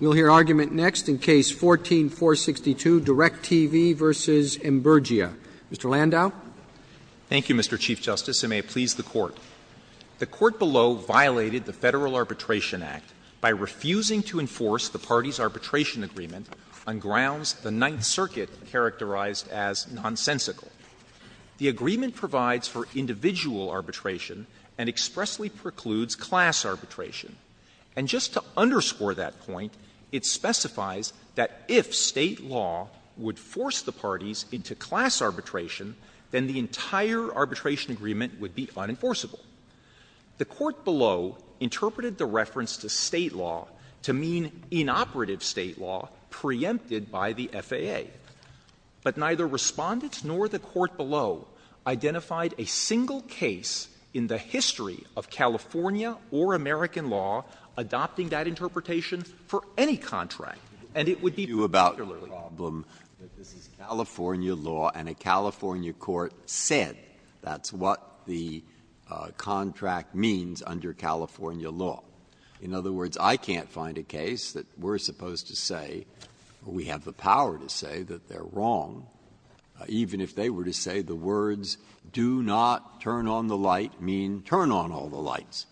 We'll hear argument next in Case No. 14-462, DirecTV v. Imburgia. Mr. Landau. Thank you, Mr. Chief Justice, and may it please the Court. The Court below violated the Federal Arbitration Act by refusing to enforce the party's arbitration agreement on grounds the Ninth Circuit characterized as nonsensical. The agreement provides for individual arbitration and expressly precludes class arbitration. And just to underscore that point, it specifies that if State law would force the parties into class arbitration, then the entire arbitration agreement would be unenforceable. The Court below interpreted the reference to State law to mean inoperative State law preempted by the FAA. But neither Respondent nor the Court below identified a single case in the history of California or American law adopting that interpretation for any contract, and it would be particularity. Breyer. You have a problem that this is California law and a California court said that's what the contract means under California law. In other words, I can't find a case that we're supposed to say, or we have the power to say, that they're wrong, even if they were to say the words, do not turn on the light, mean turn on all the lights.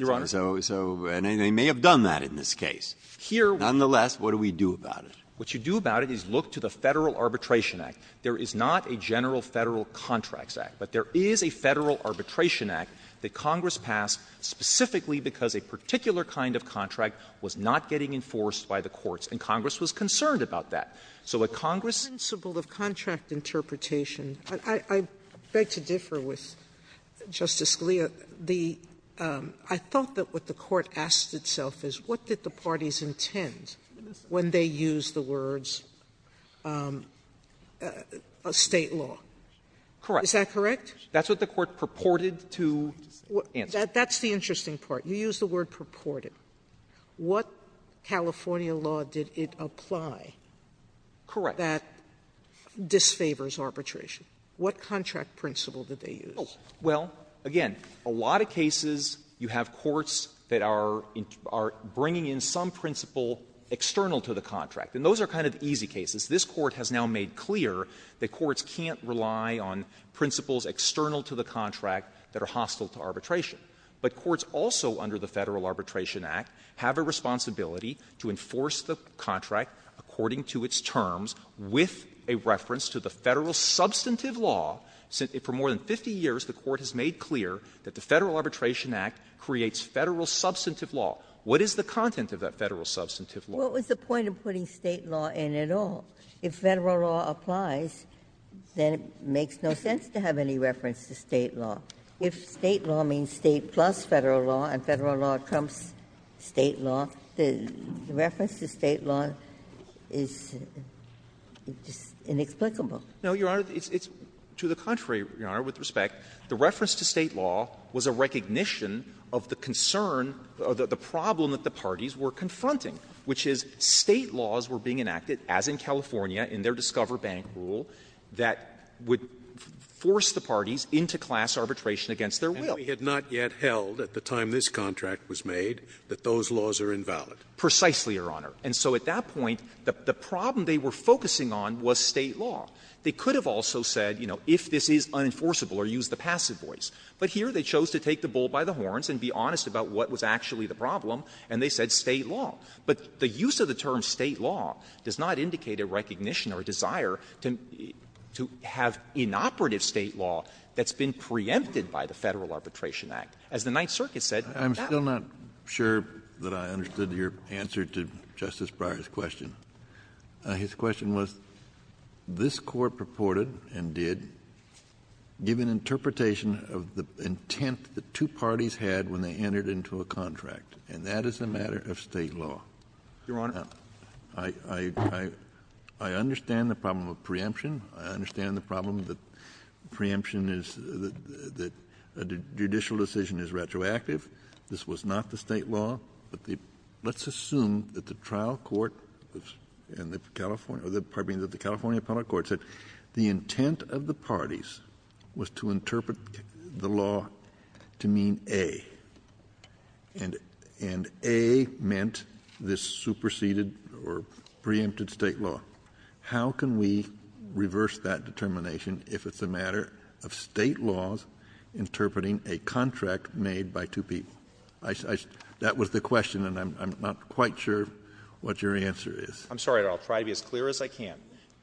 So they may have done that in this case. Nonetheless, what do we do about it? What you do about it is look to the Federal Arbitration Act. There is not a general Federal Contracts Act, but there is a Federal Arbitration Act that Congress passed specifically because a particular kind of contract was not getting enforced by the courts, and Congress was concerned about that. So what Congress ---- Sotomayor, the principle of contract interpretation, I beg to differ with Justice Scalia. The — I thought that what the Court asked itself is, what did the parties intend when they used the words, State law? Correct. Is that correct? That's what the Court purported to answer. That's the interesting part. You used the word purported. What California law did it apply that disfavors arbitration? What contract principle did they use? Well, again, a lot of cases you have courts that are bringing in some principle external to the contract, and those are kind of easy cases. This Court has now made clear that courts can't rely on principles external to the contract that are hostile to arbitration. But courts also under the Federal Arbitration Act have a responsibility to enforce the contract according to its terms with a reference to the Federal substantive law. For more than 50 years, the Court has made clear that the Federal Arbitration Act creates Federal substantive law. What is the content of that Federal substantive law? Well, it was the point of putting State law in it all. If Federal law applies, then it makes no sense to have any reference to State law. If State law means State plus Federal law, and Federal law becomes State law, the reference to State law is just inexplicable. No, Your Honor. It's to the contrary, Your Honor, with respect. The reference to State law was a recognition of the concern, the problem that the parties were confronting, which is State laws were being enacted, as in California, in their Discover Bank rule, that would force the parties into class arbitration against their will. Scalia, at the time this contract was made, that those laws are invalid. Precisely, Your Honor. And so at that point, the problem they were focusing on was State law. They could have also said, you know, if this is unenforceable or use the passive voice. But here they chose to take the bull by the horns and be honest about what was actually the problem, and they said State law. But the use of the term State law does not indicate a recognition or a desire to have inoperative State law that's been preempted by the Federal Arbitration Act. As the Ninth Circuit said, that was not the case. Kennedy, I'm still not sure that I understood your answer to Justice Breyer's question. His question was, this Court purported and did give an interpretation of the intent the two parties had when they entered into a contract, and that is a matter of State law. Your Honor. I understand the problem of preemption. I understand the problem that preemption is that a judicial decision is retroactive. This was not the State law. But let's assume that the trial court and the California or the California appellate court said the intent of the parties was to interpret the law to mean a, and a meant this superseded or preempted State law. How can we reverse that determination if it's a matter of State laws interpreting a contract made by two people? That was the question, and I'm not quite sure what your answer is. I'm sorry, Your Honor. I'll try to be as clear as I can.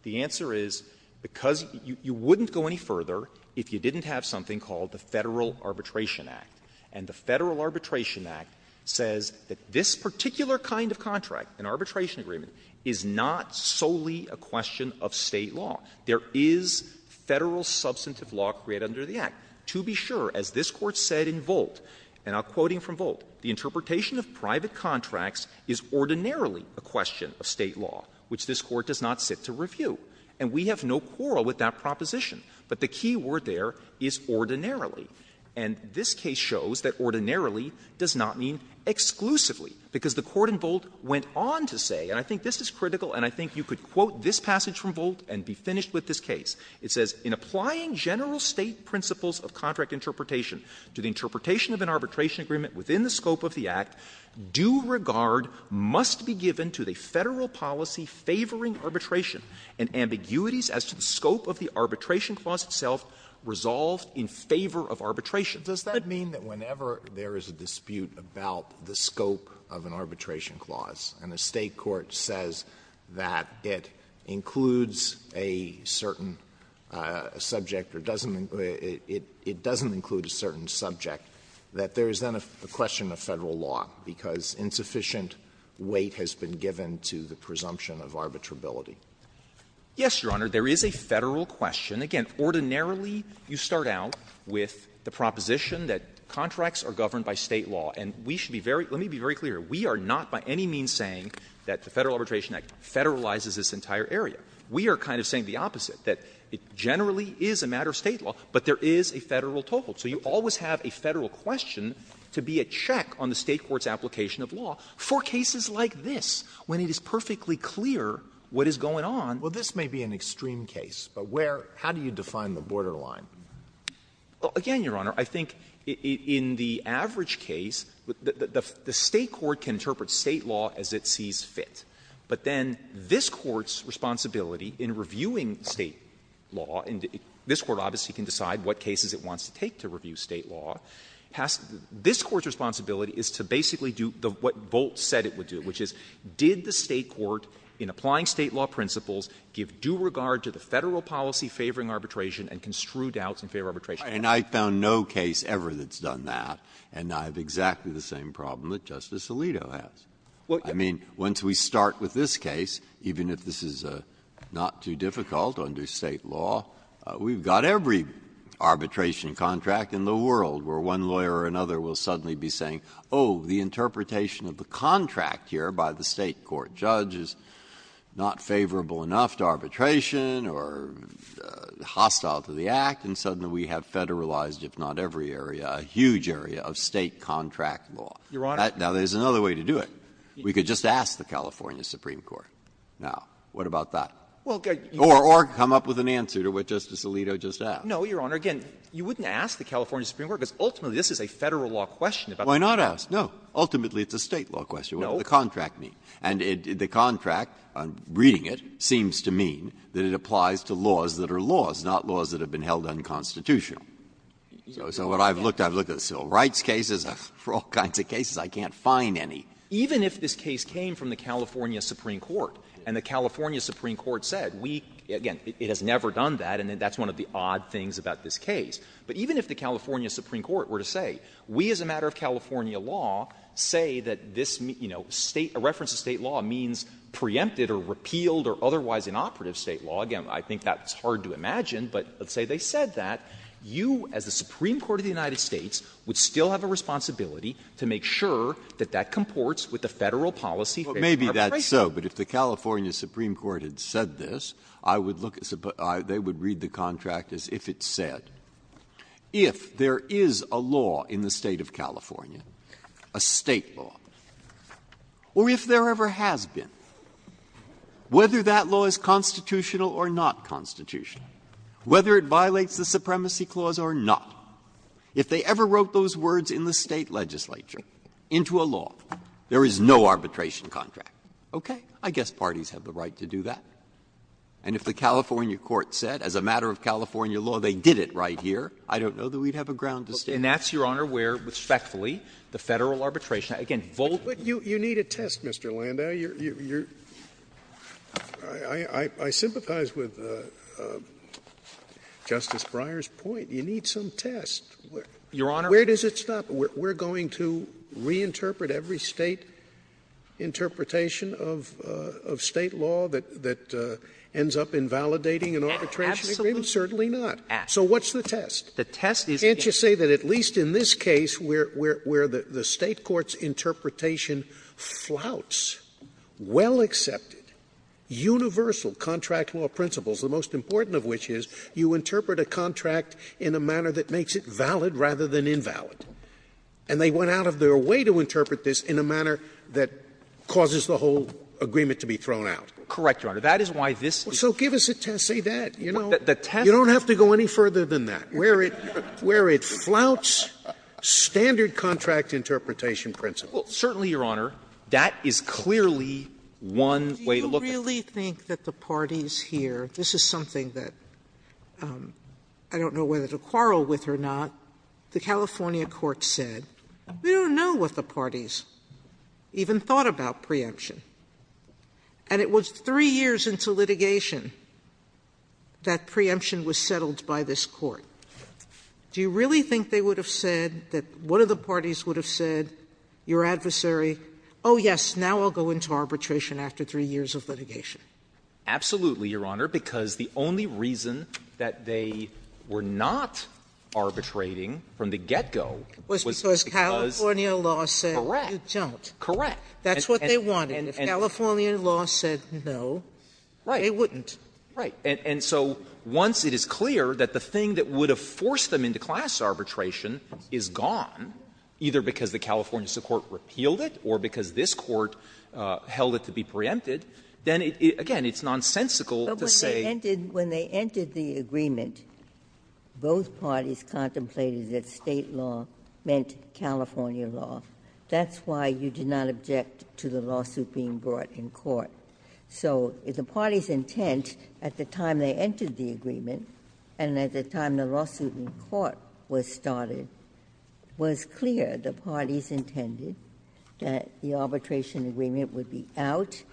The answer is because you wouldn't go any further if you didn't have something called the Federal Arbitration Act. And the Federal Arbitration Act says that this particular kind of contract, an arbitration agreement, is not solely a question of State law. There is Federal substantive law created under the Act. To be sure, as this Court said in Volt, and I'm quoting from Volt, the interpretation of private contracts is ordinarily a question of State law, which this Court does not sit to review. And we have no quarrel with that proposition. But the key word there is ordinarily. And this case shows that ordinarily does not mean exclusively, because the Court in Volt went on to say, and I think this is critical, and I think you could quote this passage from Volt and be finished with this case, it says, In applying general State principles of contract interpretation to the interpretation of an arbitration agreement within the scope of the Act, due regard must be given to the Federal policy favoring arbitration and ambiguities as to the scope of the arbitration. Alitoso, does that mean that whenever there is a dispute about the scope of an arbitration clause and a State court says that it includes a certain subject or doesn't include a certain subject, that there is then a question of Federal law, because insufficient weight has been given to the presumption of arbitrability? Yes, Your Honor, there is a Federal question. Again, ordinarily, you start out with the proposition that contracts are governed by State law. And we should be very — let me be very clear. We are not by any means saying that the Federal Arbitration Act federalizes this entire area. We are kind of saying the opposite, that it generally is a matter of State law, but there is a Federal toll. So you always have a Federal question to be a check on the State court's application of law for cases like this, when it is perfectly clear what is going on. Well, this may be an extreme case, but where — how do you define the borderline? Well, again, Your Honor, I think in the average case, the State court can interpret State law as it sees fit. But then this Court's responsibility in reviewing State law, and this Court obviously can decide what cases it wants to take to review State law, has — this Court's responsibility is to basically do what Bolt said it would do, which is did the State court, in applying State law principles, give due regard to the Federal policy favoring arbitration and construe doubts in favor of arbitration? And I found no case ever that's done that, and I have exactly the same problem that Justice Alito has. I mean, once we start with this case, even if this is not too difficult under State law, we've got every arbitration contract in the world where one lawyer or another will suddenly be saying, oh, the interpretation of the contract here by the State court judge is not favorable enough to arbitration or hostile to the Act, and suddenly we have Federalized, if not every area, a huge area of State contract law. Now, there's another way to do it. We could just ask the California Supreme Court. Now, what about that? Or come up with an answer to what Justice Alito just asked. No, Your Honor. Again, you wouldn't ask the California Supreme Court, because ultimately this is a Federal law question. Breyer. Why not ask? No. Ultimately, it's a State law question. What does the contract mean? And the contract, reading it, seems to mean that it applies to laws that are laws, not laws that have been held unconstitutional. So what I've looked at, I've looked at the civil rights cases, for all kinds of cases, I can't find any. Even if this case came from the California Supreme Court, and the California Supreme Court said, we — again, it has never done that, and that's one of the odd things about this case. But even if the California Supreme Court were to say, we as a matter of California law say that this, you know, State — a reference to State law means preempted or repealed or otherwise inoperative State law, again, I think that's hard to imagine, but let's say they said that, you as the Supreme Court of the United States would still have a responsibility to make sure that that comports with the Federal policy favoring arbitration. Breyer. Well, maybe that's so, but if the California Supreme Court had said this, I would look at the — they would read the contract as if it said, if there is a law in the State of California, a State law, or if there ever has been, whether that law is constitutional or not constitutional, whether it violates the Supremacy Clause or not, if they ever wrote those words in the State legislature into a law, there is no arbitration contract. Okay. I guess parties have the right to do that. And if the California court said, as a matter of California law, they did it right here, I don't know that we'd have a ground to stand on. And that's, Your Honor, where, respectfully, the Federal arbitration — again, vote. Scalia. But you need a test, Mr. Landau. You're — I sympathize with Justice Breyer's point. You need some test. Your Honor. Where does it stop? We're going to reinterpret every State interpretation of State law that ends up invalidating an arbitration agreement? Absolutely not. So what's the test? The test is the test. Can't you say that at least in this case, where the State court's interpretation flouts well-accepted, universal contract law principles, the most important of which is you interpret a contract in a manner that makes it valid rather than invalid. And they went out of their way to interpret this in a manner that causes the whole agreement to be thrown out. Correct, Your Honor. That is why this is— So give us a test. Say that, you know. The test— You don't have to go any further than that, where it flouts standard contract interpretation principles. Well, certainly, Your Honor, that is clearly one way to look at it. Do you really think that the parties here — this is something that I don't know whether to quarrel with or not. The California court said, we don't know what the parties even thought about preemption. And it was three years into litigation that preemption was settled by this court. Do you really think they would have said, that one of the parties would have said, your adversary, oh, yes, now I'll go into arbitration after three years of litigation? Absolutely, Your Honor, because the only reason that they were not arbitrating from the get-go was because— Was because California law said you don't. Correct. That's what they wanted. And if California law said no, they wouldn't. Right. And so once it is clear that the thing that would have forced them into class arbitration is gone, either because the California court repealed it or because this court held it to be preempted, then, again, it's nonsensical to say— But when they entered the agreement, both parties contemplated that State law meant California law. That's why you did not object to the lawsuit being brought in court. So the parties' intent at the time they entered the agreement and at the time the lawsuit in court was started was clear. The parties intended that the arbitration agreement would be out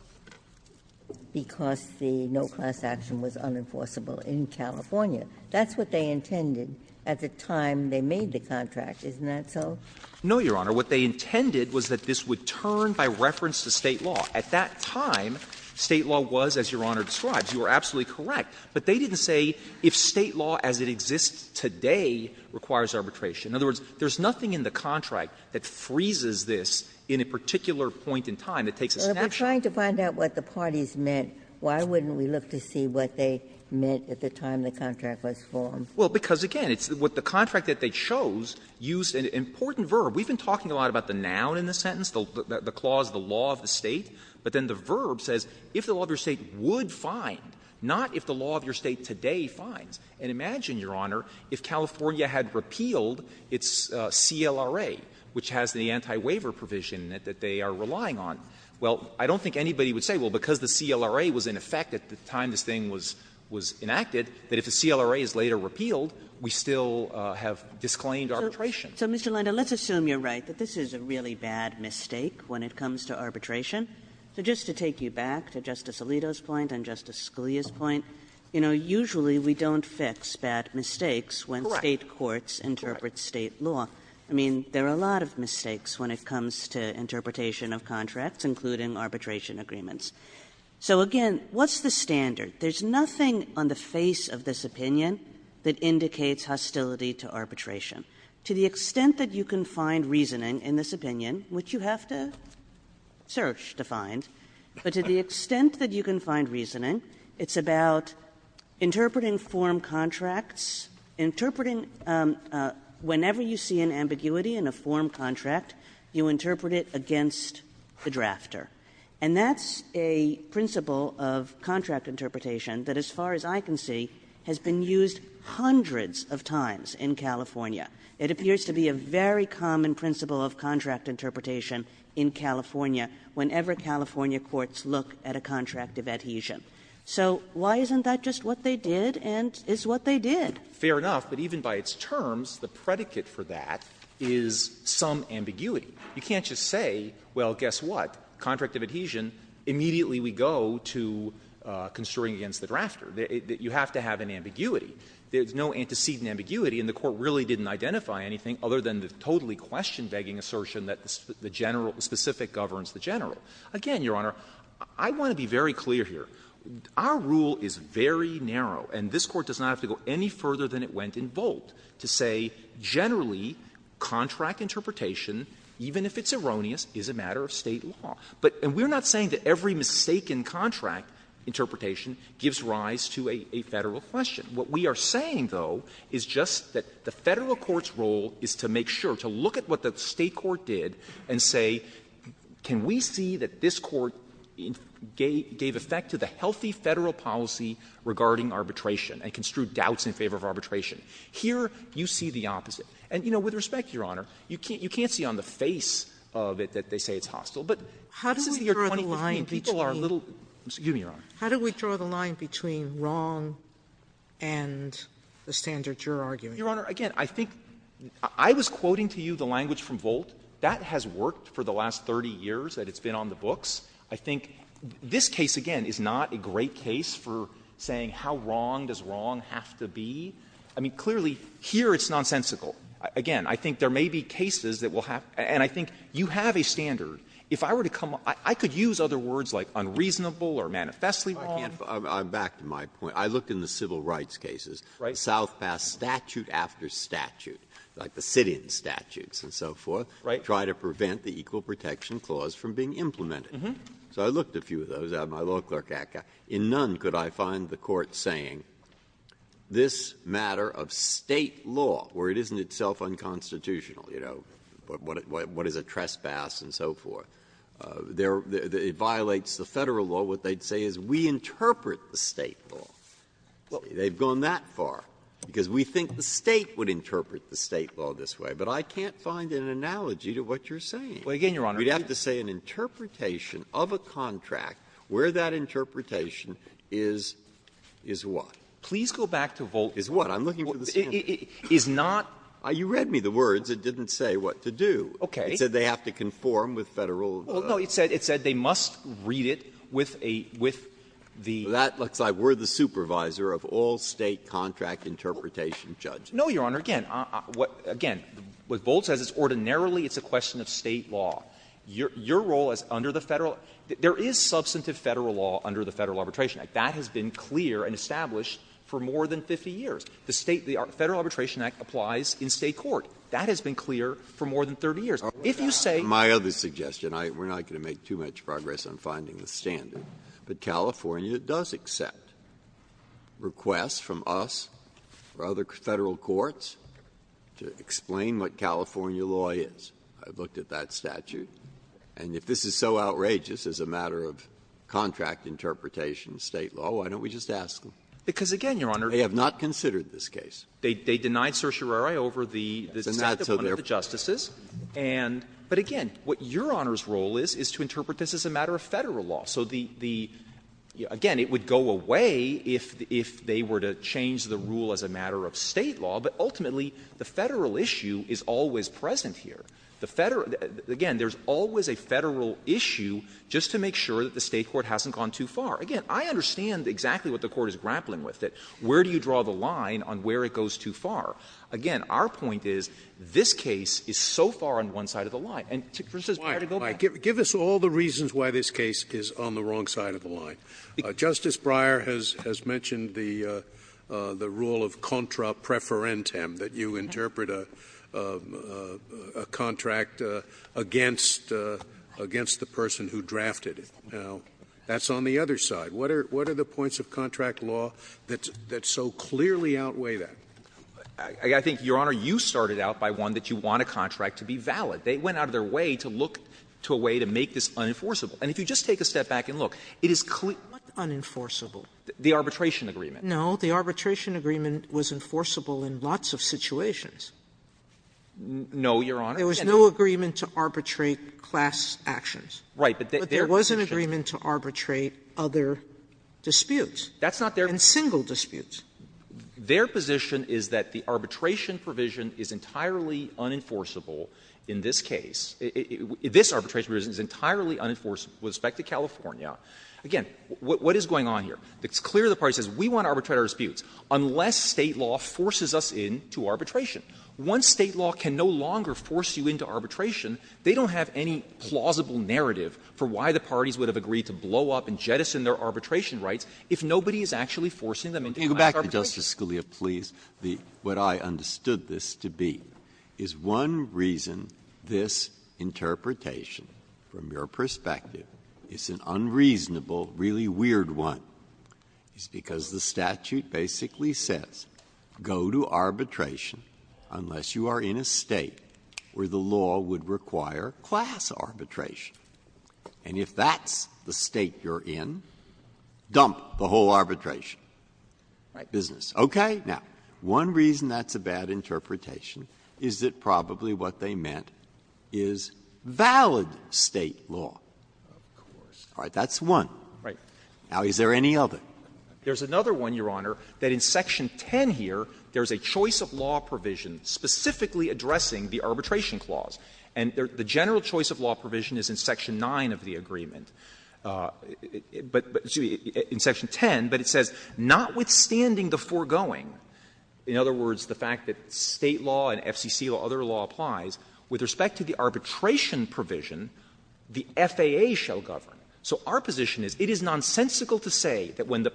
because the no-class action was unenforceable in California. That's what they intended at the time they made the contract. Isn't that so? No, Your Honor. What they intended was that this would turn by reference to State law. At that time, State law was, as Your Honor describes. You are absolutely correct. But they didn't say if State law as it exists today requires arbitration. In other words, there's nothing in the contract that freezes this in a particular point in time that takes a snapshot. If we're trying to find out what the parties meant, why wouldn't we look to see what they meant at the time the contract was formed? Well, because, again, it's what the contract that they chose used an important verb. We've been talking a lot about the noun in the sentence, the clause, the law of the State, but then the verb says if the law of your State would find, not if the law of your State today finds. And imagine, Your Honor, if California had repealed its CLRA, which has the anti-waiver provision that they are relying on. Well, I don't think anybody would say, well, because the CLRA was in effect at the time this thing was enacted, that if the CLRA is later repealed, we still have disclaimed arbitration. So, Mr. Landa, let's assume you're right, that this is a really bad mistake when it comes to arbitration. So just to take you back to Justice Alito's point and Justice Scalia's point, you know, usually we don't fix bad mistakes when State courts interpret State law. I mean, there are a lot of mistakes when it comes to interpretation of contracts, including arbitration agreements. So, again, what's the standard? There's nothing on the face of this opinion that indicates hostility to arbitration. To the extent that you can find reasoning in this opinion, which you have to search to find, but to the extent that you can find reasoning, it's about interpreting form contracts, interpreting whenever you see an ambiguity in a form contract, you interpret it against the drafter. And that's a principle of contract interpretation that, as far as I can see, has been used hundreds of times in California. It appears to be a very common principle of contract interpretation in California whenever California courts look at a contract of adhesion. So why isn't that just what they did and is what they did? Fair enough. But even by its terms, the predicate for that is some ambiguity. You can't just say, well, guess what, contract of adhesion, immediately we go to constraining against the drafter. You have to have an ambiguity. There's no antecedent ambiguity, and the Court really didn't identify anything other than the totally question-begging assertion that the general — the specific governs the general. Again, Your Honor, I want to be very clear here. Our rule is very narrow, and this Court does not have to go any further than it went in Volt to say generally contract interpretation, even if it's erroneous, is a matter of State law. But — and we're not saying that every mistaken contract interpretation gives rise to a Federal question. What we are saying, though, is just that the Federal court's role is to make sure, to look at what the State court did and say, can we see that this court gave effect to the healthy Federal policy regarding arbitration and construe doubts in favor of arbitration? Here, you see the opposite. And, you know, with respect, Your Honor, you can't see on the face of it that they say it's hostile, but this is the year 2015. Sotomayor, people are a little — excuse me, Your Honor. How do we draw the line between wrong and the standard you're arguing? Your Honor, again, I think — I was quoting to you the language from Volt. That has worked for the last 30 years that it's been on the books. I think this case, again, is not a great case for saying how wrong does wrong have to be. I mean, clearly, here it's nonsensical. Again, I think there may be cases that will have — and I think you have a standard. If I were to come up — I could use other words like unreasonable or manifestly wrong. Breyer, I'm back to my point. I looked in the civil rights cases, South Pass statute after statute, like the sit-in statutes and so forth, trying to prevent the Equal Protection Clause from being implemented. So I looked a few of those out in my law clerk act. In none could I find the court saying this matter of State law, where it isn't itself unconstitutional, you know, what is a trespass and so forth. It violates the Federal law. What they'd say is we interpret the State law. They've gone that far because we think the State would interpret the State law this way. But I can't find an analogy to what you're saying. Well, again, Your Honor, we'd have to say an interpretation of a contract, where that interpretation is, is what? Please go back to Volt. Is what? I'm looking for the standard. It is not the standard. You read me the words. It didn't say what to do. Okay. It said they have to conform with Federal law. Well, no, it said they must read it with a — with the — That looks like we're the supervisor of all State contract interpretation, Judge. No, Your Honor. Again, again, what Volt says is ordinarily it's a question of State law. Your role is under the Federal — there is substantive Federal law under the Federal Arbitration Act. That has been clear and established for more than 50 years. The State — the Federal Arbitration Act applies in State court. That has been clear for more than 30 years. If you say — My other suggestion, we're not going to make too much progress on finding the standard, but California does accept requests from us or other Federal courts to explain what California law is. I've looked at that statute. And if this is so outrageous as a matter of contract interpretation, State law, why don't we just ask them? Because, again, Your Honor — They have not considered this case. They denied certiorari over the — And that's a —— the one of the justices. And — but, again, what Your Honor's role is, is to interpret this as a matter of Federal law. So the — again, it would go away if they were to change the rule as a matter of State law, but ultimately the Federal issue is always present here. The Federal — again, there's always a Federal issue just to make sure that the State court hasn't gone too far. Again, I understand exactly what the Court is grappling with, that where do you draw the line on where it goes too far? Again, our point is this case is so far on one side of the line. And, Justice Breyer, to go back — Scalia Give us all the reasons why this case is on the wrong side of the line. Justice Breyer has mentioned the rule of contra preferentem, that you interpret a contract against — against the person who drafted it. Now, that's on the other side. What are — what are the points of contract law that — that so clearly outweigh that? Clement I think, Your Honor, you started out by one that you want a contract to be valid. They went out of their way to look to a way to make this unenforceable. And if you just take a step back and look, it is — Sotomayor What unenforceable? Clement The arbitration agreement. Sotomayor No. The arbitration agreement was enforceable in lots of situations. Clement No, Your Honor. There was no agreement to arbitrate class actions. Clement Right. But there — Sotomayor But there was no agreement to arbitrate other disputes. Clement That's not their — Sotomayor And single disputes. Clement Their position is that the arbitration provision is entirely unenforceable in this case. This arbitration provision is entirely unenforceable with respect to California. Again, what is going on here? It's clear the party says we want to arbitrate our disputes unless State law forces us into arbitration. Once State law can no longer force you into arbitration, they don't have any plausible narrative for why the parties would have agreed to blow up and jettison their arbitration rights if nobody is actually forcing them into arbitration. Breyer Can you go back, Justice Scalia, please, what I understood this to be? Is one reason this interpretation, from your perspective, is an unreasonable, really weird one, is because the statute basically says go to arbitration unless you are in a State where the law would require class arbitration. And if that's the State you're in, dump the whole arbitration business. Okay? Now, one reason that's a bad interpretation is that probably what they meant is valid State law. Clement Of course. Breyer All right. That's one. Clement Right. Breyer Now, is there any other? Clement There's another one, Your Honor, that in Section 10 here, there's a choice of law provision specifically addressing the arbitration clause. And the general choice of law provision is in Section 9 of the agreement. But, excuse me, in Section 10, but it says, notwithstanding the foregoing, in other words, the fact that State law and FCC law, other law applies, with respect to the arbitration provision, the FAA shall govern. So our position is it is nonsensical to say that when the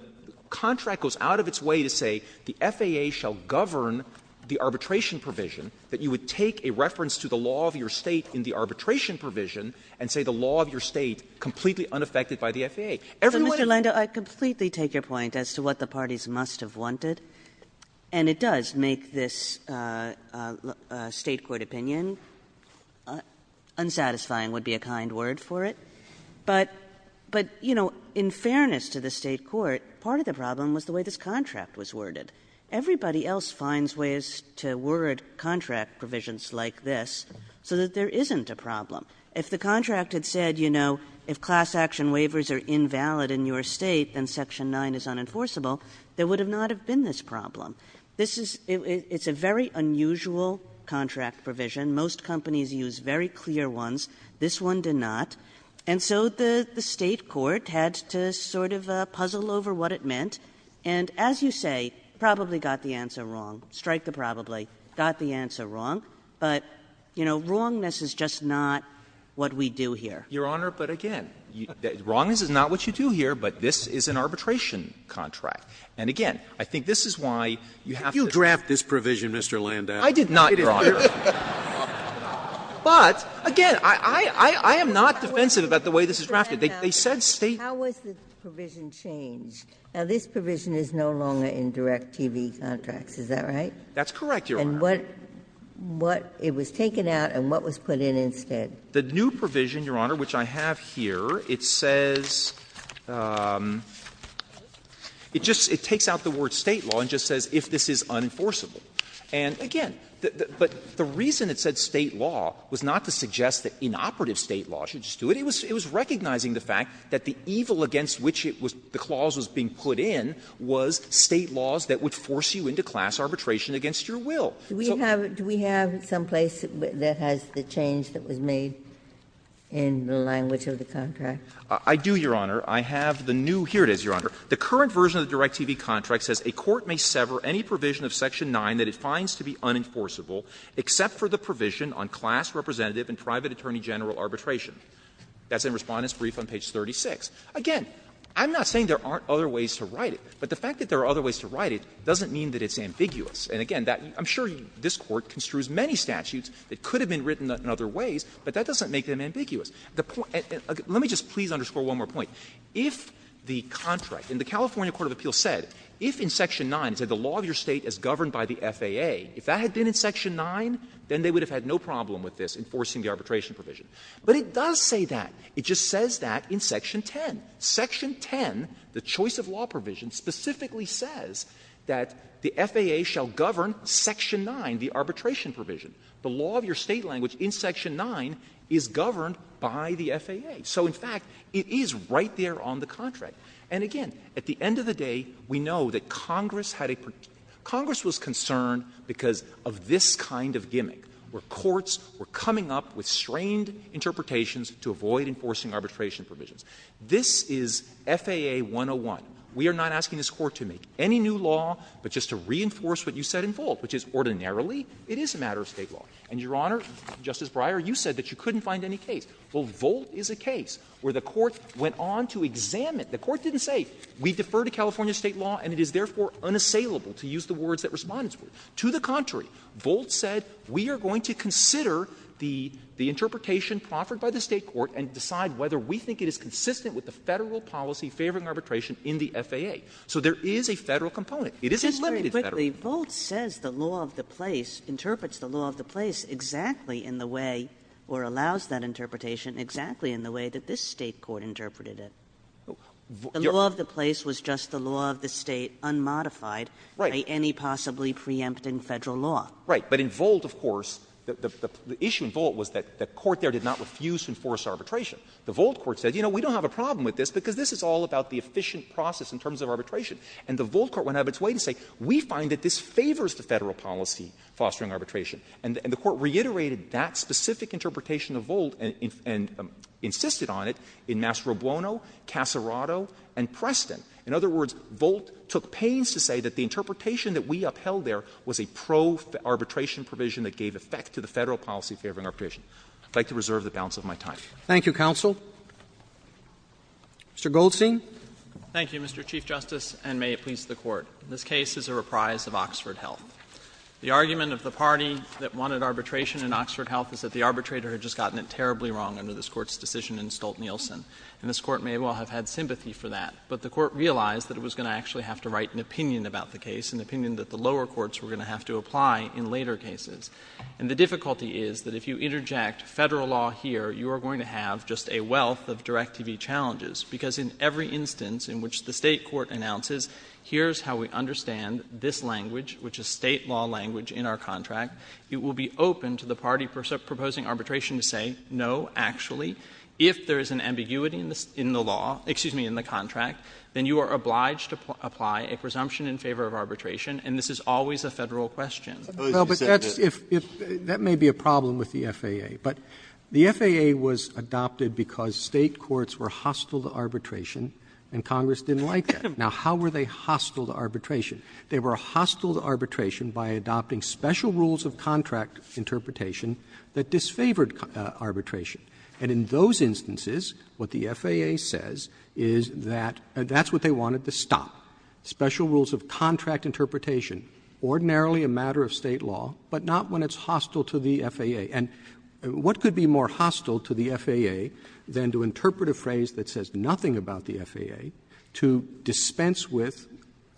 contract goes out of its way to say the FAA shall govern the arbitration provision, that you would take a reference to the law of your State in the arbitration provision and say the law of your State completely unaffected by the FAA. Everyone else has a right to say that. Kagan So, Mr. Landau, I completely take your point as to what the parties must have wanted. And it does make this State court opinion unsatisfying would be a kind word for it. But, you know, in fairness to the State court, part of the problem was the way this contract was worded. Everybody else finds ways to word contract provisions like this so that there isn't a problem. If the contract had said, you know, if class action waivers are invalid in your State, then Section 9 is unenforceable, there would not have been this problem. This is — it's a very unusual contract provision. Most companies use very clear ones. This one did not. And so the State court had to sort of puzzle over what it meant. And as you say, probably got the answer wrong, strike the probably, got the answer wrong. But, you know, wrongness is just not what we do here. Landau Your Honor, but again, wrongness is not what you do here, but this is an arbitration contract. And again, I think this is why you have to do it. Breyer You draft this provision, Mr. Landau. Landau I did not, Your Honor. But, again, I am not defensive about the way this is drafted. They said State. Ginsburg How was the provision changed? Now, this provision is no longer in direct TV contracts, is that right? Landau That's correct, Your Honor. Ginsburg And what — what — it was taken out and what was put in instead? Landau The new provision, Your Honor, which I have here, it says — it just — it takes out the word State law and just says if this is unenforceable. And, again, but the reason it said State law was not to suggest that inoperative State law should just do it. It was recognizing the fact that the evil against which it was — the clause was being put in was State laws that would force you into class arbitration against your will. Ginsburg Do we have — do we have someplace that has the change that was made in the language of the contract? Landau I do, Your Honor. I have the new — here it is, Your Honor. The current version of the direct TV contract says a court may sever any provision of section 9 that it finds to be unenforceable except for the provision on class representative and private attorney general arbitration. That's in Respondent's brief on page 36. Again, I'm not saying there aren't other ways to write it, but the fact that there are other ways to write it doesn't mean that it's ambiguous. And, again, that — I'm sure this Court construes many statutes that could have been written in other ways, but that doesn't make them ambiguous. The point — let me just please underscore one more point. The law of your State as governed by the FAA, if that had been in section 9, then they would have had no problem with this enforcing the arbitration provision. But it does say that. It just says that in section 10. Section 10, the choice of law provision, specifically says that the FAA shall govern section 9, the arbitration provision. The law of your State language in section 9 is governed by the FAA. So, in fact, it is right there on the contract. And, again, at the end of the day, we know that Congress had a — Congress was concerned because of this kind of gimmick, where courts were coming up with strained interpretations to avoid enforcing arbitration provisions. This is FAA 101. We are not asking this Court to make any new law, but just to reinforce what you said in Volt, which is ordinarily it is a matter of State law. And, Your Honor, Justice Breyer, you said that you couldn't find any case. Well, Volt is a case where the Court went on to examine. The Court didn't say, we defer to California State law and it is therefore unassailable to use the words that Respondents put. To the contrary, Volt said, we are going to consider the interpretation proffered by the State court and decide whether we think it is consistent with the Federal policy favoring arbitration in the FAA. So there is a Federal component. It isn't limited to Federal. Kagan. The Volt says the law of the place, interprets the law of the place exactly in the way, or allows that interpretation exactly in the way that this State court interpreted it. The law of the place was just the law of the State unmodified by any possibly preempting Federal law. Right. But in Volt, of course, the issue in Volt was that the court there did not refuse to enforce arbitration. The Volt court said, you know, we don't have a problem with this because this is all about the efficient process in terms of arbitration. And the Volt court went out of its way to say, we find that this favors the Federal policy fostering arbitration. And the court reiterated that specific interpretation of Volt and insisted on it in Mastro Buono, Casarado, and Preston. In other words, Volt took pains to say that the interpretation that we upheld there was a pro-arbitration provision that gave effect to the Federal policy favoring arbitration. I would like to reserve the balance of my time. Roberts. Thank you, counsel. Mr. Goldstein. Thank you, Mr. Chief Justice, and may it please the Court. This case is a reprise of Oxford Health. The argument of the party that wanted arbitration in Oxford Health is that the arbitrator had just gotten it terribly wrong under this Court's decision in Stolt-Nielsen. And this Court may well have had sympathy for that. But the Court realized that it was going to actually have to write an opinion about the case, an opinion that the lower courts were going to have to apply in later cases. And the difficulty is that if you interject Federal law here, you are going to have just a wealth of Direct-to-be challenges. Because in every instance in which the State court announces, here's how we understand this language, which is State law language in our contract, it will be open to the party proposing arbitration to say, no, actually, if there is an ambiguity in the law — excuse me, in the contract, then you are obliged to apply a presumption in favor of arbitration, and this is always a Federal question. Roberts. Well, but that's if — that may be a problem with the FAA. But the FAA was adopted because State courts were hostile to arbitration and Congress didn't like that. Now, how were they hostile to arbitration? They were hostile to arbitration by adopting special rules of contract interpretation that disfavored arbitration. And in those instances, what the FAA says is that — that's what they wanted to stop, special rules of contract interpretation, ordinarily a matter of State law, but not when it's hostile to the FAA. And what could be more hostile to the FAA than to interpret a phrase that says nothing about the FAA, to dispense with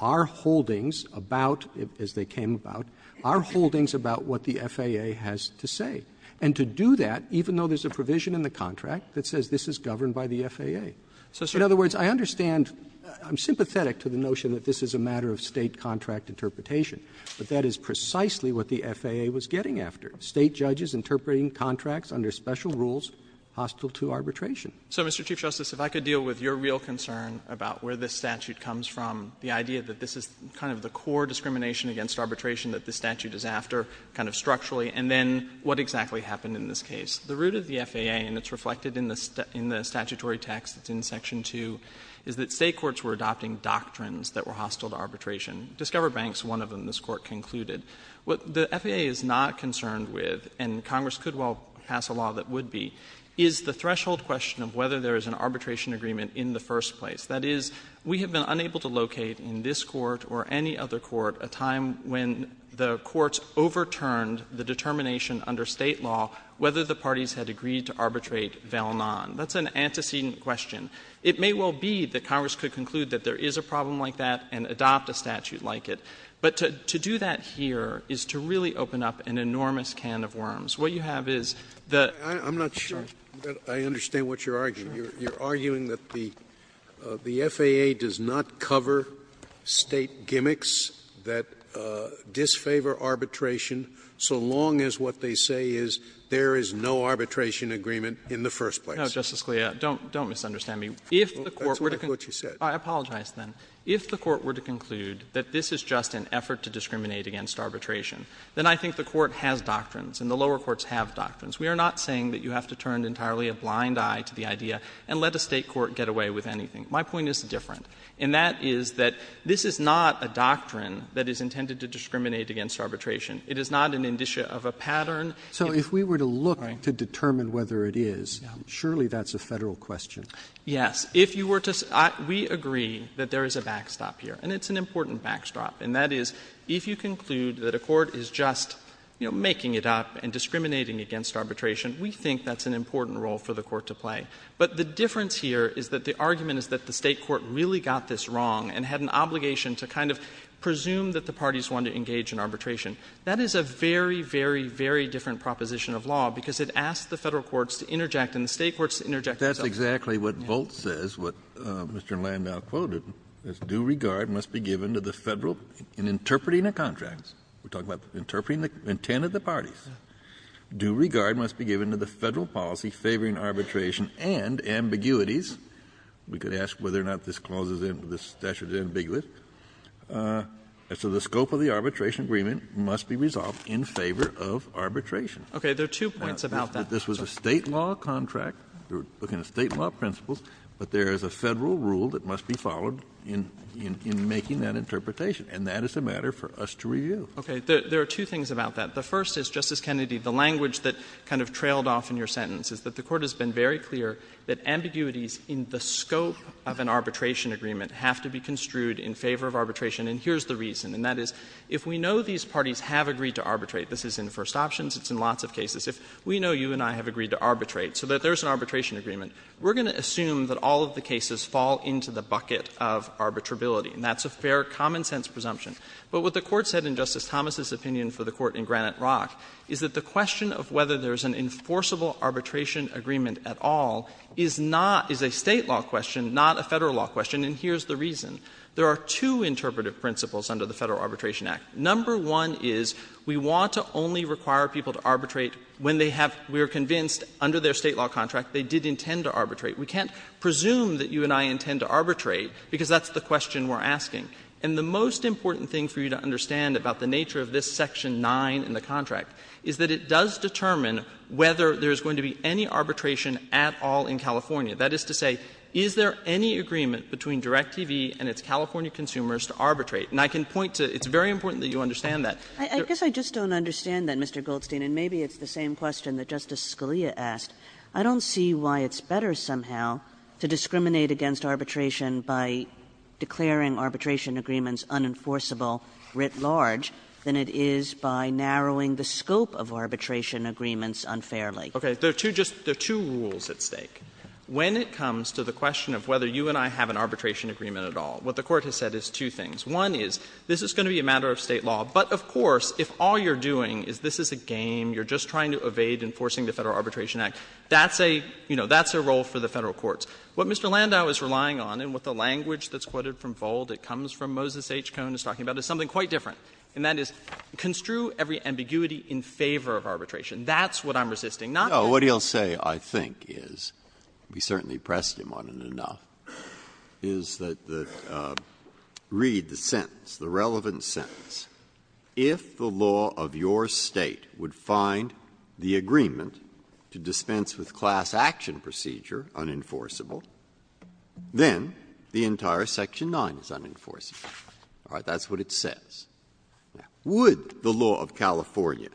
our holdings about, as they came about, our holdings about what the FAA has to say, and to do that even though there's a provision in the contract that says this is governed by the FAA? So in other words, I understand — I'm sympathetic to the notion that this is a matter of State contract interpretation, but that is precisely what the FAA was getting after, State judges interpreting contracts under special rules hostile to arbitration. So, Mr. Chief Justice, if I could deal with your real concern about where this statute comes from, the idea that this is kind of the core discrimination against arbitration that this statute is after, kind of structurally, and then what exactly happened in this case. The root of the FAA, and it's reflected in the statutory text, it's in section 2, is that State courts were adopting doctrines that were hostile to arbitration. Discover Banks, one of them, this Court concluded. What the FAA is not concerned with, and Congress could well pass a law that would be, is the threshold question of whether there is an arbitration agreement in the first place. That is, we have been unable to locate in this Court or any other Court a time when the courts overturned the determination under State law whether the parties had agreed to arbitrate val non. That's an antecedent question. It may well be that Congress could conclude that there is a problem like that and adopt a statute like it. But to do that here is to really open up an enormous can of worms. What you have is the ---- Scalia, I'm not sure that I understand what you're arguing. You're arguing that the FAA does not cover State gimmicks that disfavor arbitration so long as what they say is there is no arbitration agreement in the first place. No, Justice Scalia, don't misunderstand me. If the Court were to conclude ---- That's what you said. I apologize, then. If the Court were to conclude that this is just an effort to discriminate against arbitration, then I think the Court has doctrines and the lower courts have doctrines. We are not saying that you have to turn entirely a blind eye to the idea and let a State court get away with anything. My point is different, and that is that this is not a doctrine that is intended to discriminate against arbitration. It is not an indicia of a pattern. Roberts, so if we were to look to determine whether it is, surely that's a Federal question. Yes. If you were to ---- We agree that there is a backstop here, and it's an important backstop, and that is if you conclude that a court is just, you know, making it up and discriminating against arbitration, we think that's an important role for the Court to play. But the difference here is that the argument is that the State court really got this wrong and had an obligation to kind of presume that the parties wanted to engage in arbitration. That is a very, very, very different proposition of law because it asks the Federal courts to interject and the State courts to interject. But that's exactly what Voltz says, what Mr. Landau quoted, is due regard must be given to the Federal, in interpreting the contracts, we're talking about interpreting the intent of the parties, due regard must be given to the Federal policy favoring arbitration and ambiguities. We could ask whether or not this clauses in this statute is ambiguous. So the scope of the arbitration agreement must be resolved in favor of arbitration. Okay. There are two points about that. This was a State law contract, we're looking at State law principles, but there is a Federal rule that must be followed in making that interpretation. And that is a matter for us to review. Okay. There are two things about that. The first is, Justice Kennedy, the language that kind of trailed off in your sentence is that the Court has been very clear that ambiguities in the scope of an arbitration agreement have to be construed in favor of arbitration, and here's the reason. And that is, if we know these parties have agreed to arbitrate, this is in first options, it's in lots of cases. If we know you and I have agreed to arbitrate, so that there's an arbitration agreement, we're going to assume that all of the cases fall into the bucket of arbitrability, and that's a fair common-sense presumption. But what the Court said in Justice Thomas' opinion for the Court in Granite Rock is that the question of whether there's an enforceable arbitration agreement at all is not — is a State law question, not a Federal law question, and here's the reason. There are two interpretive principles under the Federal Arbitration Act. Number one is we want to only require people to arbitrate when they have — we are convinced under their State law contract they did intend to arbitrate. We can't presume that you and I intend to arbitrate, because that's the question we're asking. And the most important thing for you to understand about the nature of this Section 9 in the contract is that it does determine whether there's going to be any arbitration at all in California. That is to say, is there any agreement between DirecTV and its California consumers to arbitrate? And I can point to — it's very important that you understand that. Kagan I guess I just don't understand that, Mr. Goldstein, and maybe it's the same question that Justice Scalia asked. I don't see why it's better somehow to discriminate against arbitration by declaring arbitration agreements unenforceable writ large than it is by narrowing the scope of arbitration agreements unfairly. Goldstein Okay. There are two just — there are two rules at stake. When it comes to the question of whether you and I have an arbitration agreement at all, what the Court has said is two things. One is, this is going to be a matter of State law, but of course, if all you're doing is this is a game, you're just trying to evade enforcing the Federal Arbitration Act, that's a — you know, that's a role for the Federal courts. What Mr. Landau is relying on, and what the language that's quoted from Vold, it comes from Moses H. Cohn, is talking about, is something quite different, and that is, construe every ambiguity in favor of arbitration. That's what I'm resisting, not that — Breyer No. What he'll say, I think, is — we certainly pressed him on it enough — is that the — read the sentence, the relevant sentence, if the law of your State would find the agreement to dispense with class action procedure unenforceable, then the entire Section 9 is unenforceable. All right? That's what it says. Now, would the law of California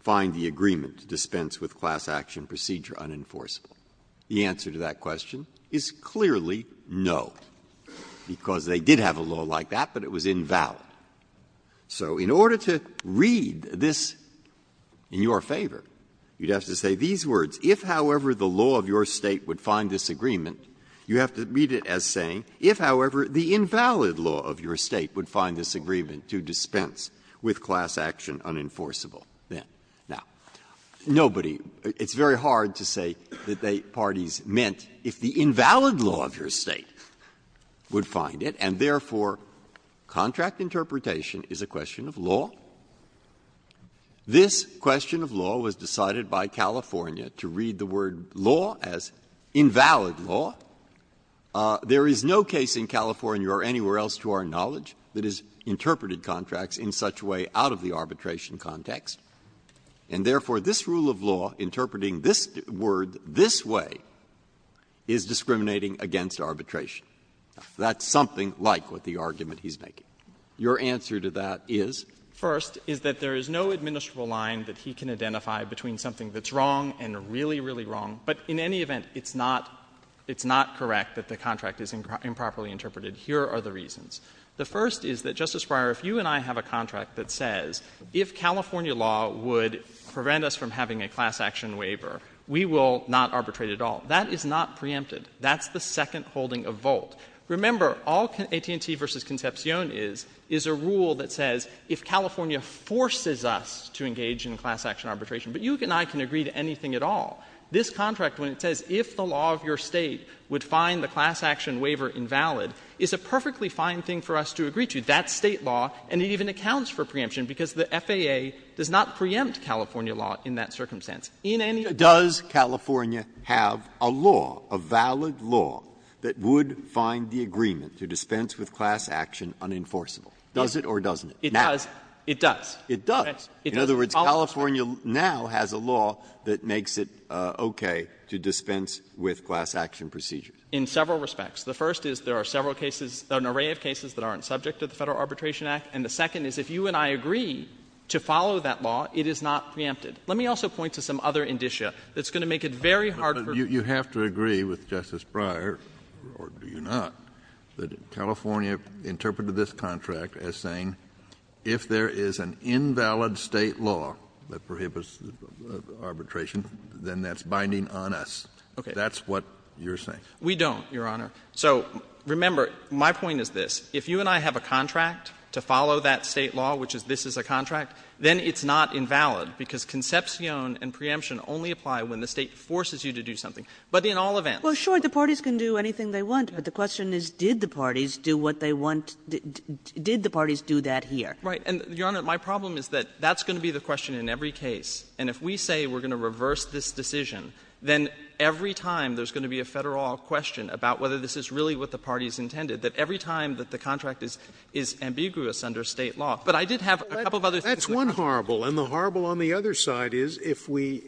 find the agreement to dispense with class action procedure unenforceable? The answer to that question is clearly no. Because they did have a law like that, but it was invalid. So in order to read this in your favor, you'd have to say these words, if, however, the law of your State would find this agreement, you have to read it as saying, if, however, the invalid law of your State would find this agreement to dispense with class action unenforceable, then. Now, nobody — it's very hard to say that the parties meant, if the invalid law of your State would find it, and, therefore, contract interpretation is a question of law. This question of law was decided by California to read the word law as invalid law. There is no case in California or anywhere else to our knowledge that has interpreted contracts in such a way out of the arbitration context, and, therefore, this rule of law interpreting this word this way is discriminating against arbitration. That's something like what the argument he's making. Your answer to that is? First, is that there is no administrable line that he can identify between something that's wrong and really, really wrong. But in any event, it's not — it's not correct that the contract is improperly interpreted. Here are the reasons. The first is that, Justice Breyer, if you and I have a contract that says, if California law would prevent us from having a class action waiver, we will not arbitrate at all. That is not preempted. That's the second holding of Volt. Remember, all AT&T v. Concepcion is, is a rule that says, if California forces us to engage in class action arbitration, but you and I can agree to anything at all, this contract, when it says, if the law of your State would find the class action waiver invalid, is a perfectly fine thing for us to agree to. That's State law, and it even accounts for preemption, because the FAA does not preempt California law in that circumstance. In any event — Breyer, does California have a law, a valid law, that would find the agreement to dispense with class action unenforceable? Does it or doesn't it? It does. It does. It does. In other words, California now has a law that makes it okay to dispense with class action procedures. In several respects. The first is there are several cases, an array of cases that aren't subject to the Federal Arbitration Act. And the second is if you and I agree to follow that law, it is not preempted. Let me also point to some other indicia that's going to make it very hard for me to agree. Kennedy, you have to agree with Justice Breyer, or do you not, that California interpreted this contract as saying, if there is an invalid State law that prohibits arbitration, then that's binding on us. Okay. That's what you're saying. We don't, Your Honor. So, remember, my point is this. If you and I have a contract to follow that State law, which is this is a contract, then it's not invalid, because concepcion and preemption only apply when the State forces you to do something. But in all events. Well, sure, the parties can do anything they want, but the question is, did the parties do what they want to do? Did the parties do that here? Right. And, Your Honor, my problem is that that's going to be the question in every case. And if we say we're going to reverse this decision, then every time there's going to be a Federal question about whether this is really what the parties intended, that every time that the contract is ambiguous under State law. But I did have a couple of other things. That's one horrible, and the horrible on the other side is, if we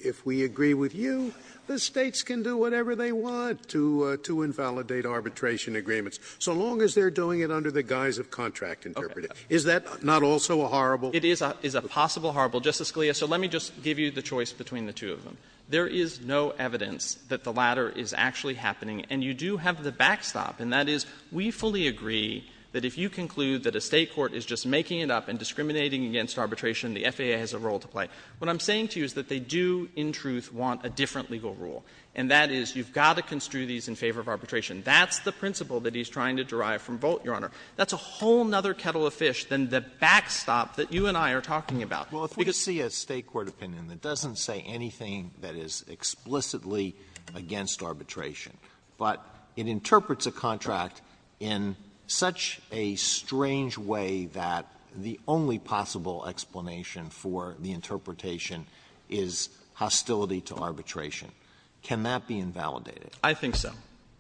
agree with you, the States can do whatever they want to invalidate arbitration agreements, so long as they're doing it under the guise of contract interpreting. Is that not also a horrible? It is a possible horrible. Justice Scalia, so let me just give you the choice between the two of them. There is no evidence that the latter is actually happening. And you do have the backstop, and that is, we fully agree that if you conclude that a State court is just making it up and discriminating against arbitration, the FAA has a role to play. What I'm saying to you is that they do, in truth, want a different legal rule, and that is, you've got to construe these in favor of arbitration. That's the principle that he's trying to derive from Volt, Your Honor. That's a whole other kettle of fish than the backstop that you and I are talking about. Alito, if we see a State court opinion that doesn't say anything that is explicitly against arbitration, but it interprets a contract in such a strange way that the only possible explanation for the interpretation is hostility to arbitration, can that be invalidated? I think so,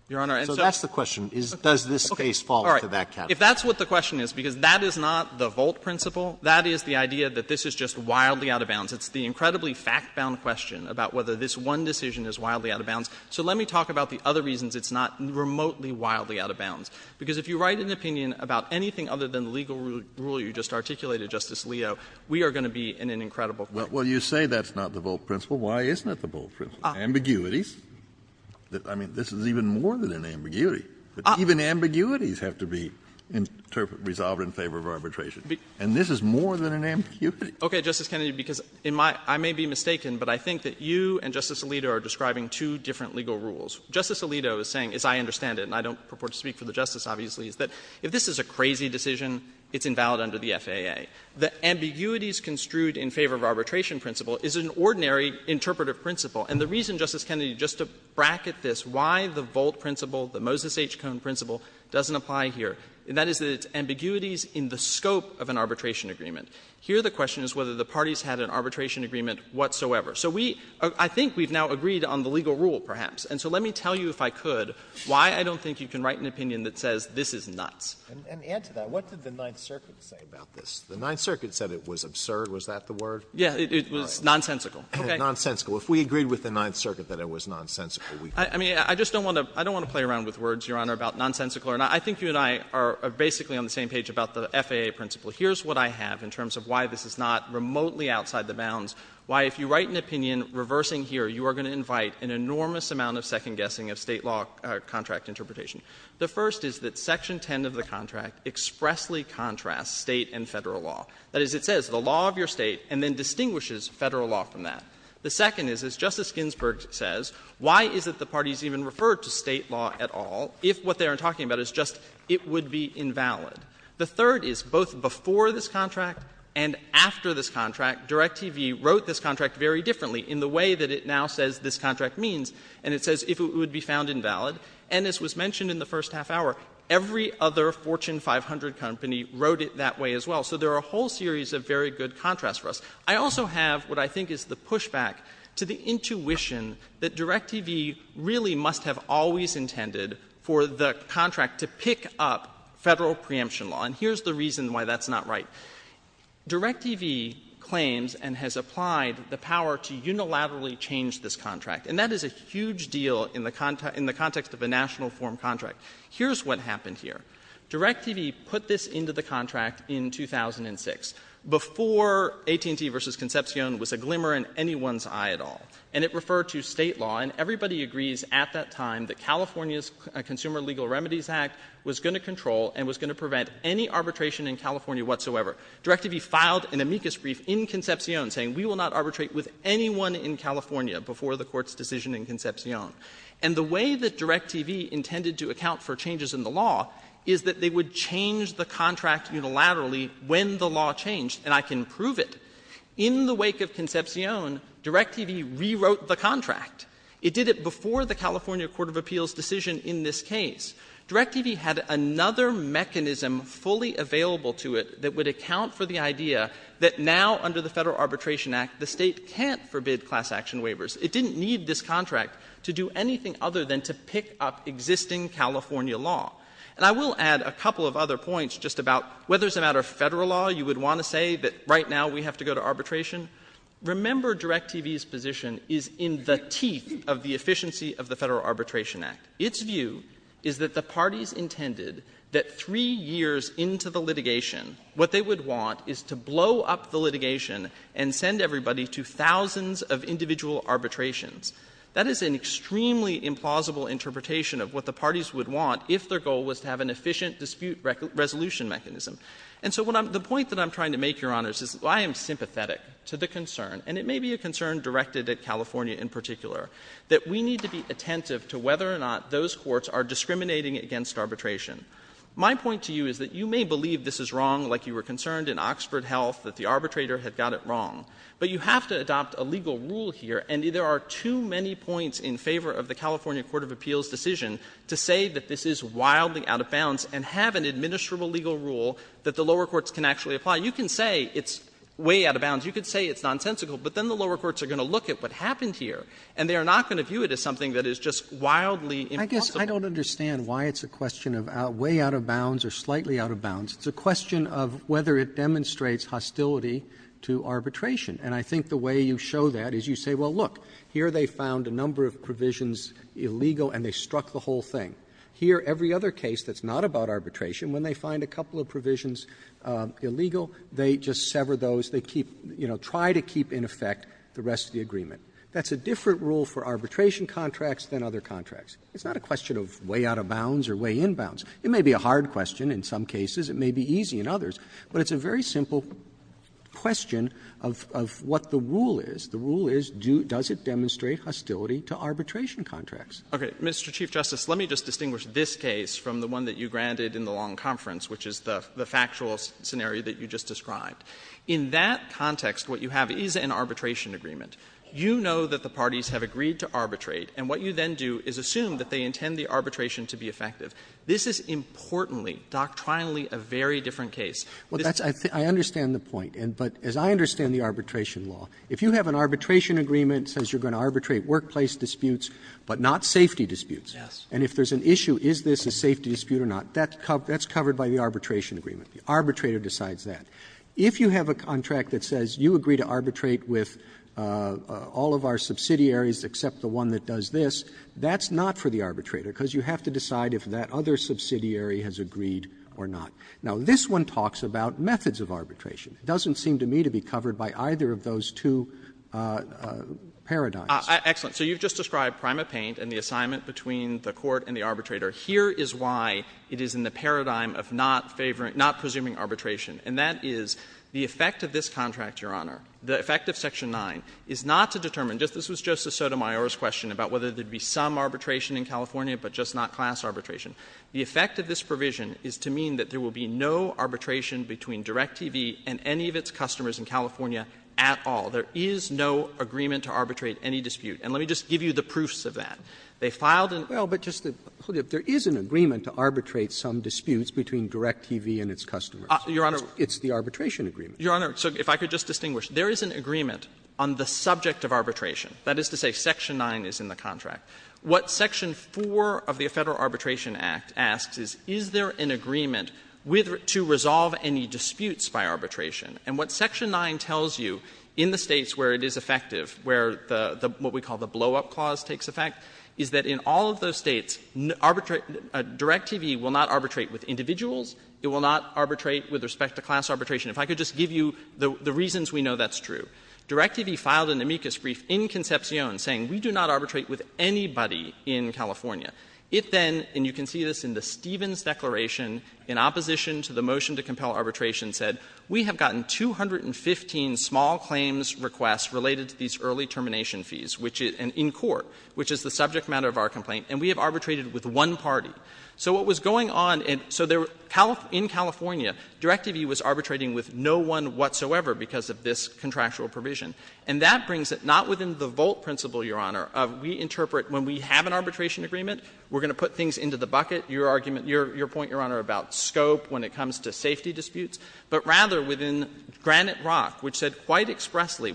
Your Honor. And so that's the question, is does this case fall into that category? All right. If that's what the question is, because that is not the Volt principle, that is the Volt principle, it's just wildly out of bounds. It's the incredibly fact-bound question about whether this one decision is wildly out of bounds. So let me talk about the other reasons it's not remotely, wildly out of bounds. Because if you write an opinion about anything other than the legal rule you just articulated, Justice Alito, we are going to be in an incredible crisis. Kennedy, Well, you say that's not the Volt principle. Why isn't it the Volt principle? Ambiguities. I mean, this is even more than an ambiguity. Even ambiguities have to be resolved in favor of arbitration. And this is more than an ambiguity. Okay, Justice Kennedy, because in my — I may be mistaken, but I think that you and Justice Alito are describing two different legal rules. Justice Alito is saying, as I understand it, and I don't purport to speak for the Justice, obviously, is that if this is a crazy decision, it's invalid under the FAA. The ambiguities construed in favor of arbitration principle is an ordinary interpretive principle. And the reason, Justice Kennedy, just to bracket this, why the Volt principle, the Moses H. Cohn principle, doesn't apply here, and that is that it's ambiguities in the scope of an arbitration agreement. Here the question is whether the parties had an arbitration agreement whatsoever. So we — I think we've now agreed on the legal rule, perhaps. And so let me tell you, if I could, why I don't think you can write an opinion that says this is nuts. And to add to that, what did the Ninth Circuit say about this? The Ninth Circuit said it was absurd. Was that the word? Yeah, it was nonsensical. Okay. Nonsensical. If we agreed with the Ninth Circuit that it was nonsensical, we could do it. I mean, I just don't want to — I don't want to play around with words, Your Honor, about nonsensical or not. I think you and I are basically on the same page about the FAA principle. Here's what I have in terms of why this is not remotely outside the bounds, why, if you write an opinion reversing here, you are going to invite an enormous amount of second-guessing of State law contract interpretation. The first is that Section 10 of the contract expressly contrasts State and Federal law. That is, it says the law of your State and then distinguishes Federal law from that. The second is, as Justice Ginsburg says, why is it the parties even refer to State law at all if what they are talking about is just it would be invalid? The third is, both before this contract and after this contract, DirecTV wrote this contract very differently in the way that it now says this contract means, and it says if it would be found invalid, and as was mentioned in the first half hour, every other Fortune 500 company wrote it that way as well. So there are a whole series of very good contrasts for us. I also have what I think is the pushback to the intuition that DirecTV really must have always intended for the contract to pick up Federal preemption law, and here's the reason why that's not right. DirecTV claims and has applied the power to unilaterally change this contract, and that is a huge deal in the context of a national form contract. Here's what happened here. DirecTV put this into the contract in 2006, before AT&T v. Concepcion was a glimmer in that time that California's Consumer Legal Remedies Act was going to control and was going to prevent any arbitration in California whatsoever. DirecTV filed an amicus brief in Concepcion saying we will not arbitrate with anyone in California before the Court's decision in Concepcion. And the way that DirecTV intended to account for changes in the law is that they would change the contract unilaterally when the law changed, and I can prove it. In the wake of Concepcion, DirecTV rewrote the contract. It did it before the California Court of Appeals' decision in this case. DirecTV had another mechanism fully available to it that would account for the idea that now, under the Federal Arbitration Act, the State can't forbid class action waivers. It didn't need this contract to do anything other than to pick up existing California law, and I will add a couple of other points just about whether it's a matter of Federal law you would want to say that right now we have to go to arbitration. Remember, DirecTV's position is in the teeth of the efficiency of the Federal Arbitration Act. Its view is that the parties intended that three years into the litigation, what they would want is to blow up the litigation and send everybody to thousands of individual arbitrations. That is an extremely implausible interpretation of what the parties would want if their goal was to have an efficient dispute resolution mechanism. And so the point that I'm trying to make, Your Honors, is I am sympathetic to the concern, and it may be a concern directed at California in particular, that we need to be attentive to whether or not those courts are discriminating against arbitration. My point to you is that you may believe this is wrong, like you were concerned in Oxford Health that the arbitrator had got it wrong, but you have to adopt a legal rule here, and there are too many points in favor of the California Court of Appeals' decision to say that this is wildly out of bounds and have an administrable legal rule that the lower courts can actually apply. You can say it's way out of bounds. You can say it's nonsensical. But then the lower courts are going to look at what happened here, and they are not going to view it as something that is just wildly impossible. Roberts. I guess I don't understand why it's a question of way out of bounds or slightly out of bounds. It's a question of whether it demonstrates hostility to arbitration. It's not a question of way out of bounds or way in bounds. It may be a hard question in some cases, it may be easy in others, but it's a very simple question of what the rule is. The rule is, does it demonstrate hostility to arbitration contracts? Goldstein, Mr. Chief Justice, let me just distinguish this case from the one that you granted in the long conference, which is the factual scenario that you just described. In that context, what you have is an arbitration agreement. You know that the parties have agreed to arbitrate, and what you then do is assume that they intend the arbitration to be effective. This is importantly, doctrinally, a very different case. Roberts. Arbitration agreement says you're going to arbitrate workplace disputes, but not safety disputes. And if there's an issue, is this a safety dispute or not, that's covered by the arbitration agreement. The arbitrator decides that. If you have a contract that says you agree to arbitrate with all of our subsidiaries except the one that does this, that's not for the arbitrator, because you have to decide if that other subsidiary has agreed or not. Now, this one talks about methods of arbitration. It doesn't seem to me to be covered by either of those two paradigms. Goldstein. So you've just described PrimaPaint and the assignment between the court and the arbitrator. Here is why it is in the paradigm of not favoring, not presuming arbitration, and that is the effect of this contract, Your Honor, the effect of section 9, is not to determine, this was just a Sotomayor's question about whether there would be some arbitration in California, but just not class arbitration. The effect of this provision is to mean that there will be no arbitration between DirecTV and any of its customers in California at all. There is no agreement to arbitrate any dispute. And let me just give you the proofs of that. They filed and they filed an agreement. Roberts Well, but just to put it, there is an agreement to arbitrate some disputes between DirecTV and its customers. Goldstein, Your Honor. It's the arbitration agreement. Goldstein, Your Honor, so if I could just distinguish. There is an agreement on the subject of arbitration, that is to say section 9 is in the contract. What section 4 of the Federal Arbitration Act asks is, is there an agreement with to resolve any disputes by arbitration? And what section 9 tells you in the States where it is effective, where the, what we call the blow-up clause takes effect, is that in all of those States, DirecTV will not arbitrate with individuals. It will not arbitrate with respect to class arbitration. If I could just give you the reasons we know that's true. DirecTV filed an amicus brief in Concepcion saying we do not arbitrate with anybody in California. It then, and you can see this in the Stevens Declaration, in opposition to the motion to compel arbitration, said we have gotten 215 small claims requests related to these early termination fees, which is in court, which is the subject matter of our complaint, and we have arbitrated with one party. So what was going on, so in California, DirecTV was arbitrating with no one whatsoever because of this contractual provision. And that brings it not within the Volt principle, Your Honor, of we interpret when we have an arbitration agreement, we're going to put things into the bucket, Your argument, Your point, Your Honor, about scope when it comes to safety disputes, but rather within Granite Rock, which said quite expressly,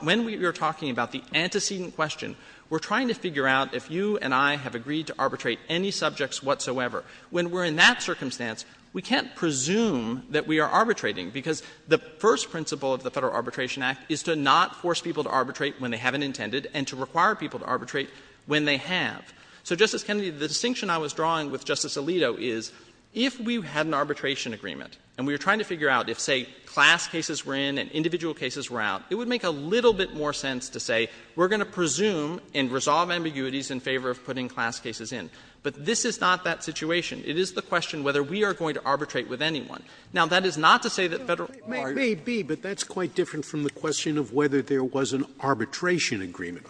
when we are talking about the antecedent question, we're trying to figure out if you and I have agreed to arbitrate any subjects whatsoever. When we're in that circumstance, we can't presume that we are arbitrating, because the first principle of the Federal Arbitration Act is to not force people to arbitrate when they haven't intended and to require people to arbitrate when they have. So, Justice Kennedy, the distinction I was drawing with Justice Alito is, if we had an arbitration agreement, and we were trying to figure out if, say, class cases were in and individual cases were out, it would make a little bit more sense to say we're going to presume and resolve ambiguities in favor of putting class cases in. But this is not that situation. It is the question whether we are going to arbitrate with anyone. Now, that is not to say that Federal arbitrators may be, but that's quite different from the question of whether there was an arbitration agreement.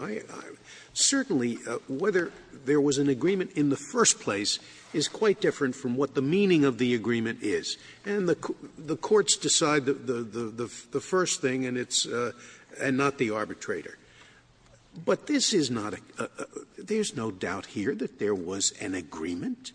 Certainly, whether there was an agreement in the first place is quite different from what the meaning of the agreement is. And the courts decide the first thing, and it's not the arbitrator. But this is not a – there is no doubt here that there was an agreement.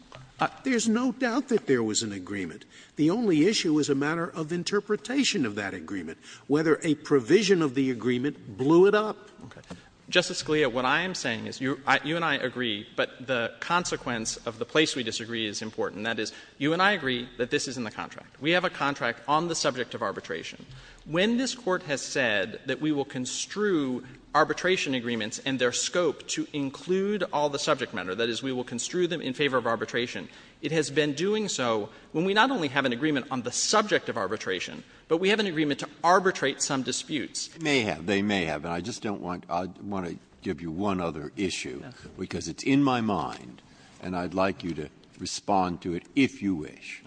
There is no doubt that there was an agreement. The only issue is a matter of interpretation of that agreement, whether a provision of the agreement blew it up. Okay. Justice Scalia, what I am saying is you and I agree, but the consequence of the place we disagree is important. That is, you and I agree that this is in the contract. We have a contract on the subject of arbitration. When this Court has said that we will construe arbitration agreements and their scope to include all the subject matter, that is, we will construe them in favor of arbitration, it has been doing so. When we not only have an agreement on the subject of arbitration, but we have an agreement to arbitrate some disputes. Breyer. They may have. They may have. And I just don't want – I want to give you one other issue, because it's in my mind, and I'd like you to respond to it if you wish,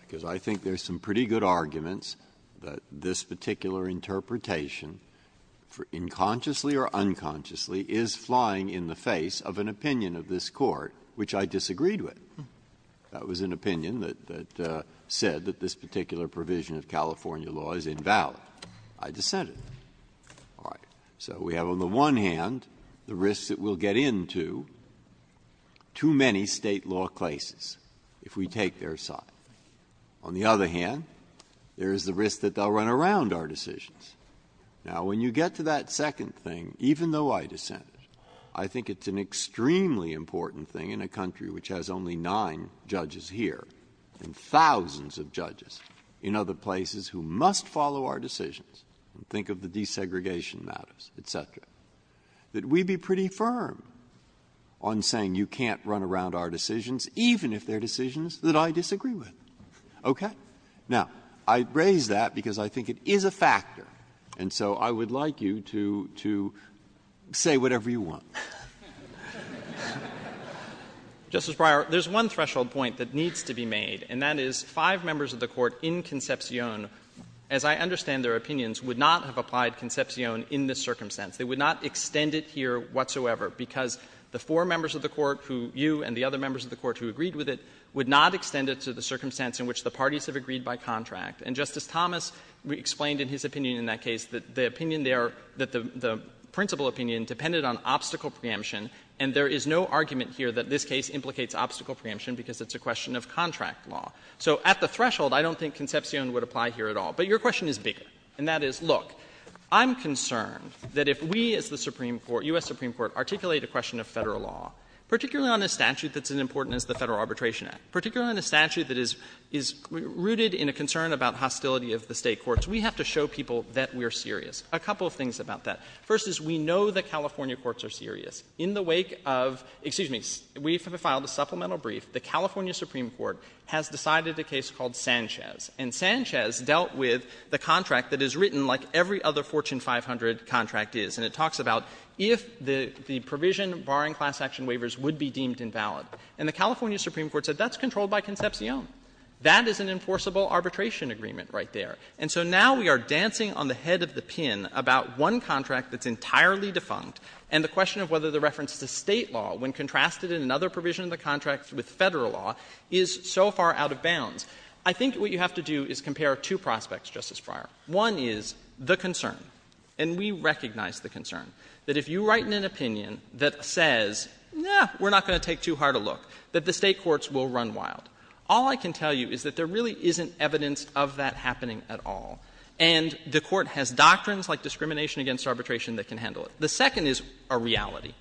because I think there's some pretty good arguments that this particular interpretation, for – unconsciously or unconsciously, is flying in the face of an opinion of this Court which I disagreed with. That was an opinion that said that this particular provision of California law is invalid. I dissented. All right. So we have on the one hand the risks that we'll get into too many State law cases if we take their side. On the other hand, there is the risk that they'll run around our decisions. Now, when you get to that second thing, even though I dissented, I think it's an extremely important thing in a country which has only nine judges here and thousands of judges in other places who must follow our decisions, and think of the desegregation matters, et cetera, that we be pretty firm on saying you can't run around our decisions, even if they're decisions that I disagree with. Okay? Now, I raise that because I think it is a factor, and so I would like you to – to say whatever you want. Justice Breyer, there's one threshold point that needs to be made, and that is five members of the Court in Concepcion, as I understand their opinions, would not have applied Concepcion in this circumstance. They would not extend it here whatsoever, because the four members of the Court who – you and the other members of the Court who agreed with it would not extend it to the circumstance in which the parties have agreed by contract. And Justice Thomas explained in his opinion in that case that the opinion there – that the principal opinion depended on obstacle preemption, and there is no argument here that this case implicates obstacle preemption because it's a question of contract law. So at the threshold, I don't think Concepcion would apply here at all. But your question is bigger, and that is, look, I'm concerned that if we as the Supreme Court – U.S. Supreme Court articulate a question of Federal law, particularly on a statute that's as important as the Federal Arbitration Act, particularly on a statute that is – is rooted in a concern about hostility of the State courts, we have to show people that we're serious. A couple of things about that. First is we know that California courts are serious. In the wake of – excuse me, we have filed a supplemental brief. The California Supreme Court has decided a case called Sanchez, and Sanchez dealt with the contract that is written like every other Fortune 500 contract is, and it talks about if the provision barring class action waivers would be deemed invalid. And the California Supreme Court said that's controlled by Concepcion. That is an enforceable arbitration agreement right there. And so now we are dancing on the head of the pin about one contract that's entirely defunct, and the question of whether the reference to State law, when contrasted in another provision of the contract with Federal law, is so far out of bounds. I think what you have to do is compare two prospects, Justice Breyer. One is the concern, and we recognize the concern, that if you write an opinion that says, no, we're not going to take too hard a look, that the State courts will run wild. All I can tell you is that there really isn't evidence of that happening at all. And the Court has doctrines like discrimination against arbitration that can handle it. The second is a reality.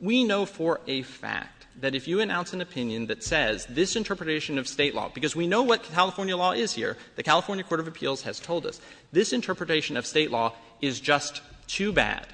We know for a fact that if you announce an opinion that says this interpretation of State law, because we know what California law is here, the California Court of Appeals has told us, this interpretation of State law is just too bad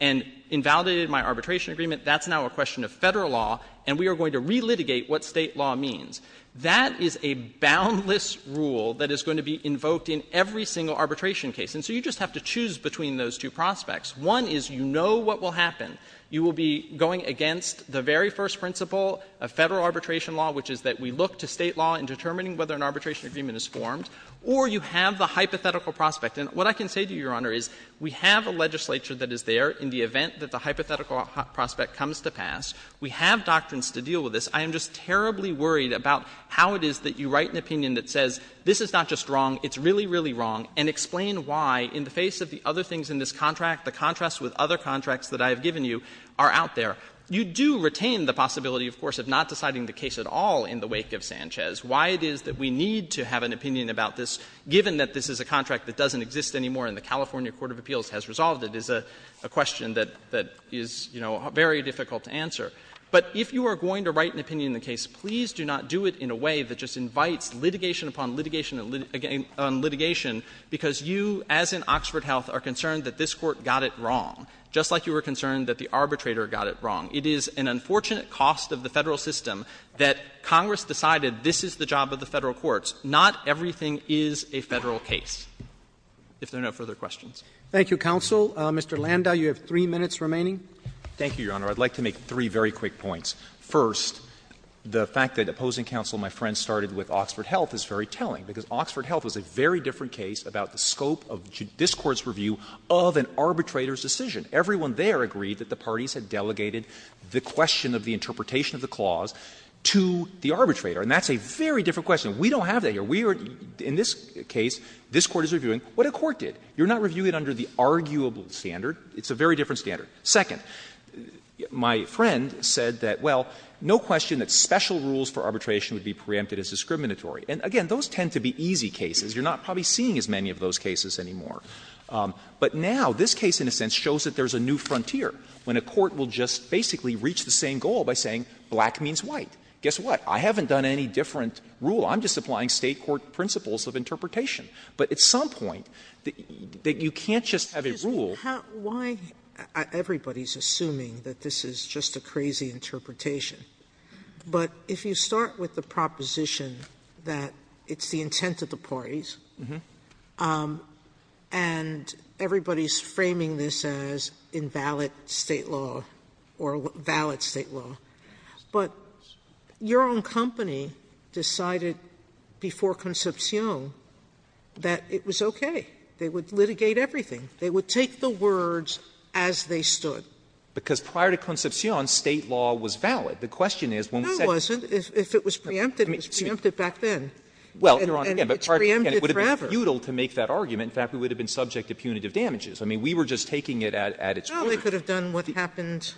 and invalidated my arbitration agreement, that's now a question of Federal law, and we are going to relitigate what State law means. That is a boundless rule that is going to be invoked in every single arbitration case. And so you just have to choose between those two prospects. One is you know what will happen. You will be going against the very first principle of Federal arbitration law, which is that we look to State law in determining whether an arbitration agreement is formed, or you have the hypothetical prospect. And what I can say to you, Your Honor, is we have a legislature that is there in the event that the hypothetical prospect comes to pass. We have doctrines to deal with this. I am just terribly worried about how it is that you write an opinion that says this is not just wrong, it's really, really wrong, and explain why in the face of the other things in this contract, the contrast with other contracts that I have given you are out there. You do retain the possibility, of course, of not deciding the case at all in the wake of Sanchez. Why it is that we need to have an opinion about this, given that this is a contract that doesn't exist anymore and the California Court of Appeals has resolved it, is a question that is, you know, very difficult to answer. But if you are going to write an opinion in the case, please do not do it in a way that just invites litigation upon litigation upon litigation, because you, as in Oxford Health, are concerned that this Court got it wrong, just like you were concerned that the arbitrator got it wrong. It is an unfortunate cost of the Federal system that Congress decided this is the job of the Federal courts. Not everything is a Federal case, if there are no further questions. Roberts. Thank you, counsel. Landau, thank you, Your Honor. I would like to make three very quick points. First, the fact that opposing counsel, my friend, started with Oxford Health is very telling, because Oxford Health was a very different case about the scope of this Court's review of an arbitrator's decision. Everyone there agreed that the parties had delegated the question of the interpretation of the clause to the arbitrator. And that's a very different question. We don't have that here. We are — in this case, this Court is reviewing what a court did. You are not reviewing it under the arguable standard. It's a very different standard. Second, my friend said that, well, no question that special rules for arbitration would be preempted as discriminatory. And, again, those tend to be easy cases. You are not probably seeing as many of those cases anymore. But now this case, in a sense, shows that there is a new frontier, when a court will just basically reach the same goal by saying black means white. Guess what? I haven't done any different rule. I'm just applying State court principles of interpretation. But at some point, you can't just have a rule. Sotomayor, why — everybody is assuming that this is just a crazy interpretation. But if you start with the proposition that it's the intent of the parties, and everybody is framing this as invalid State law, or valid State law, but your own company decided before Concepcion that it was okay, they would litigate everything. They would take the words as they stood. Because prior to Concepcion, State law was valid. The question is, when we said — No, it wasn't. If it was preempted, it was preempted back then. Well, Your Honor, again, it would have been futile to make that argument. In fact, we would have been subject to punitive damages. I mean, we were just taking it at its word. Well, they could have done what happened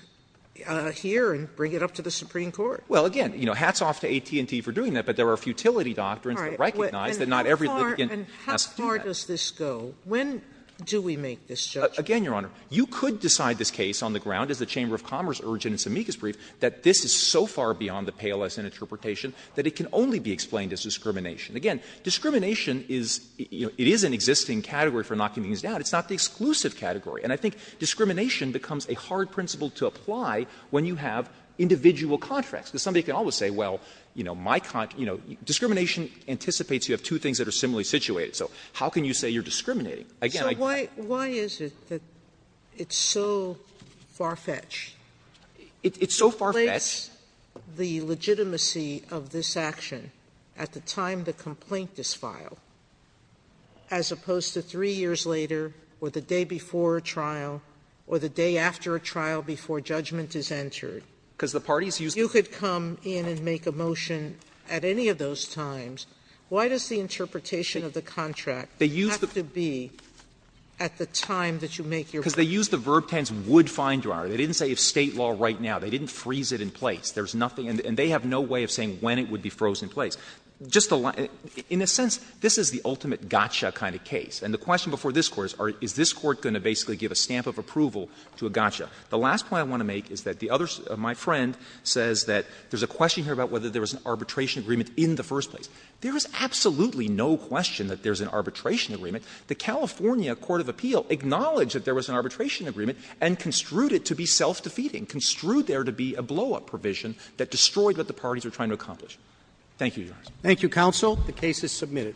here and bring it up to the Supreme Court. Well, again, hats off to AT&T for doing that. But there are futility doctrines that recognize that not every litigant has to do that. And how far does this go? When do we make this judgment? Again, Your Honor, you could decide this case on the ground, as the Chamber of Commerce urged in its amicus brief, that this is so far beyond the pay less interpretation that it can only be explained as discrimination. Again, discrimination is — it is an existing category for knocking things down. It's not the exclusive category. And I think discrimination becomes a hard principle to apply when you have individual contracts. Because somebody can always say, well, you know, my — you know, discrimination anticipates you have two things that are similarly situated. So how can you say you're discriminating? Again, I don't know. Sotomayor, why is it that it's so far-fetched? It's so far-fetched. It's the legitimacy of this action at the time the complaint is filed, as opposed to three years later, or the day before a trial, or the day after a trial before judgment is entered. Because the parties used to do that. If you could come in and make a motion at any of those times, why does the interpretation of the contract have to be at the time that you make your motion? Because they used the verb tense would fine-dryer. They didn't say if State law right now. They didn't freeze it in place. There's nothing — and they have no way of saying when it would be frozen in place. Just a — in a sense, this is the ultimate gotcha kind of case. And the question before this Court is, is this Court going to basically give a stamp of approval to a gotcha? The last point I want to make is that the other — my friend says that there's a question here about whether there was an arbitration agreement in the first place. There is absolutely no question that there's an arbitration agreement. The California court of appeal acknowledged that there was an arbitration agreement and construed it to be self-defeating, construed there to be a blow-up provision that destroyed what the parties were trying to accomplish. Thank you, Your Honor. Roberts. Thank you, counsel. The case is submitted.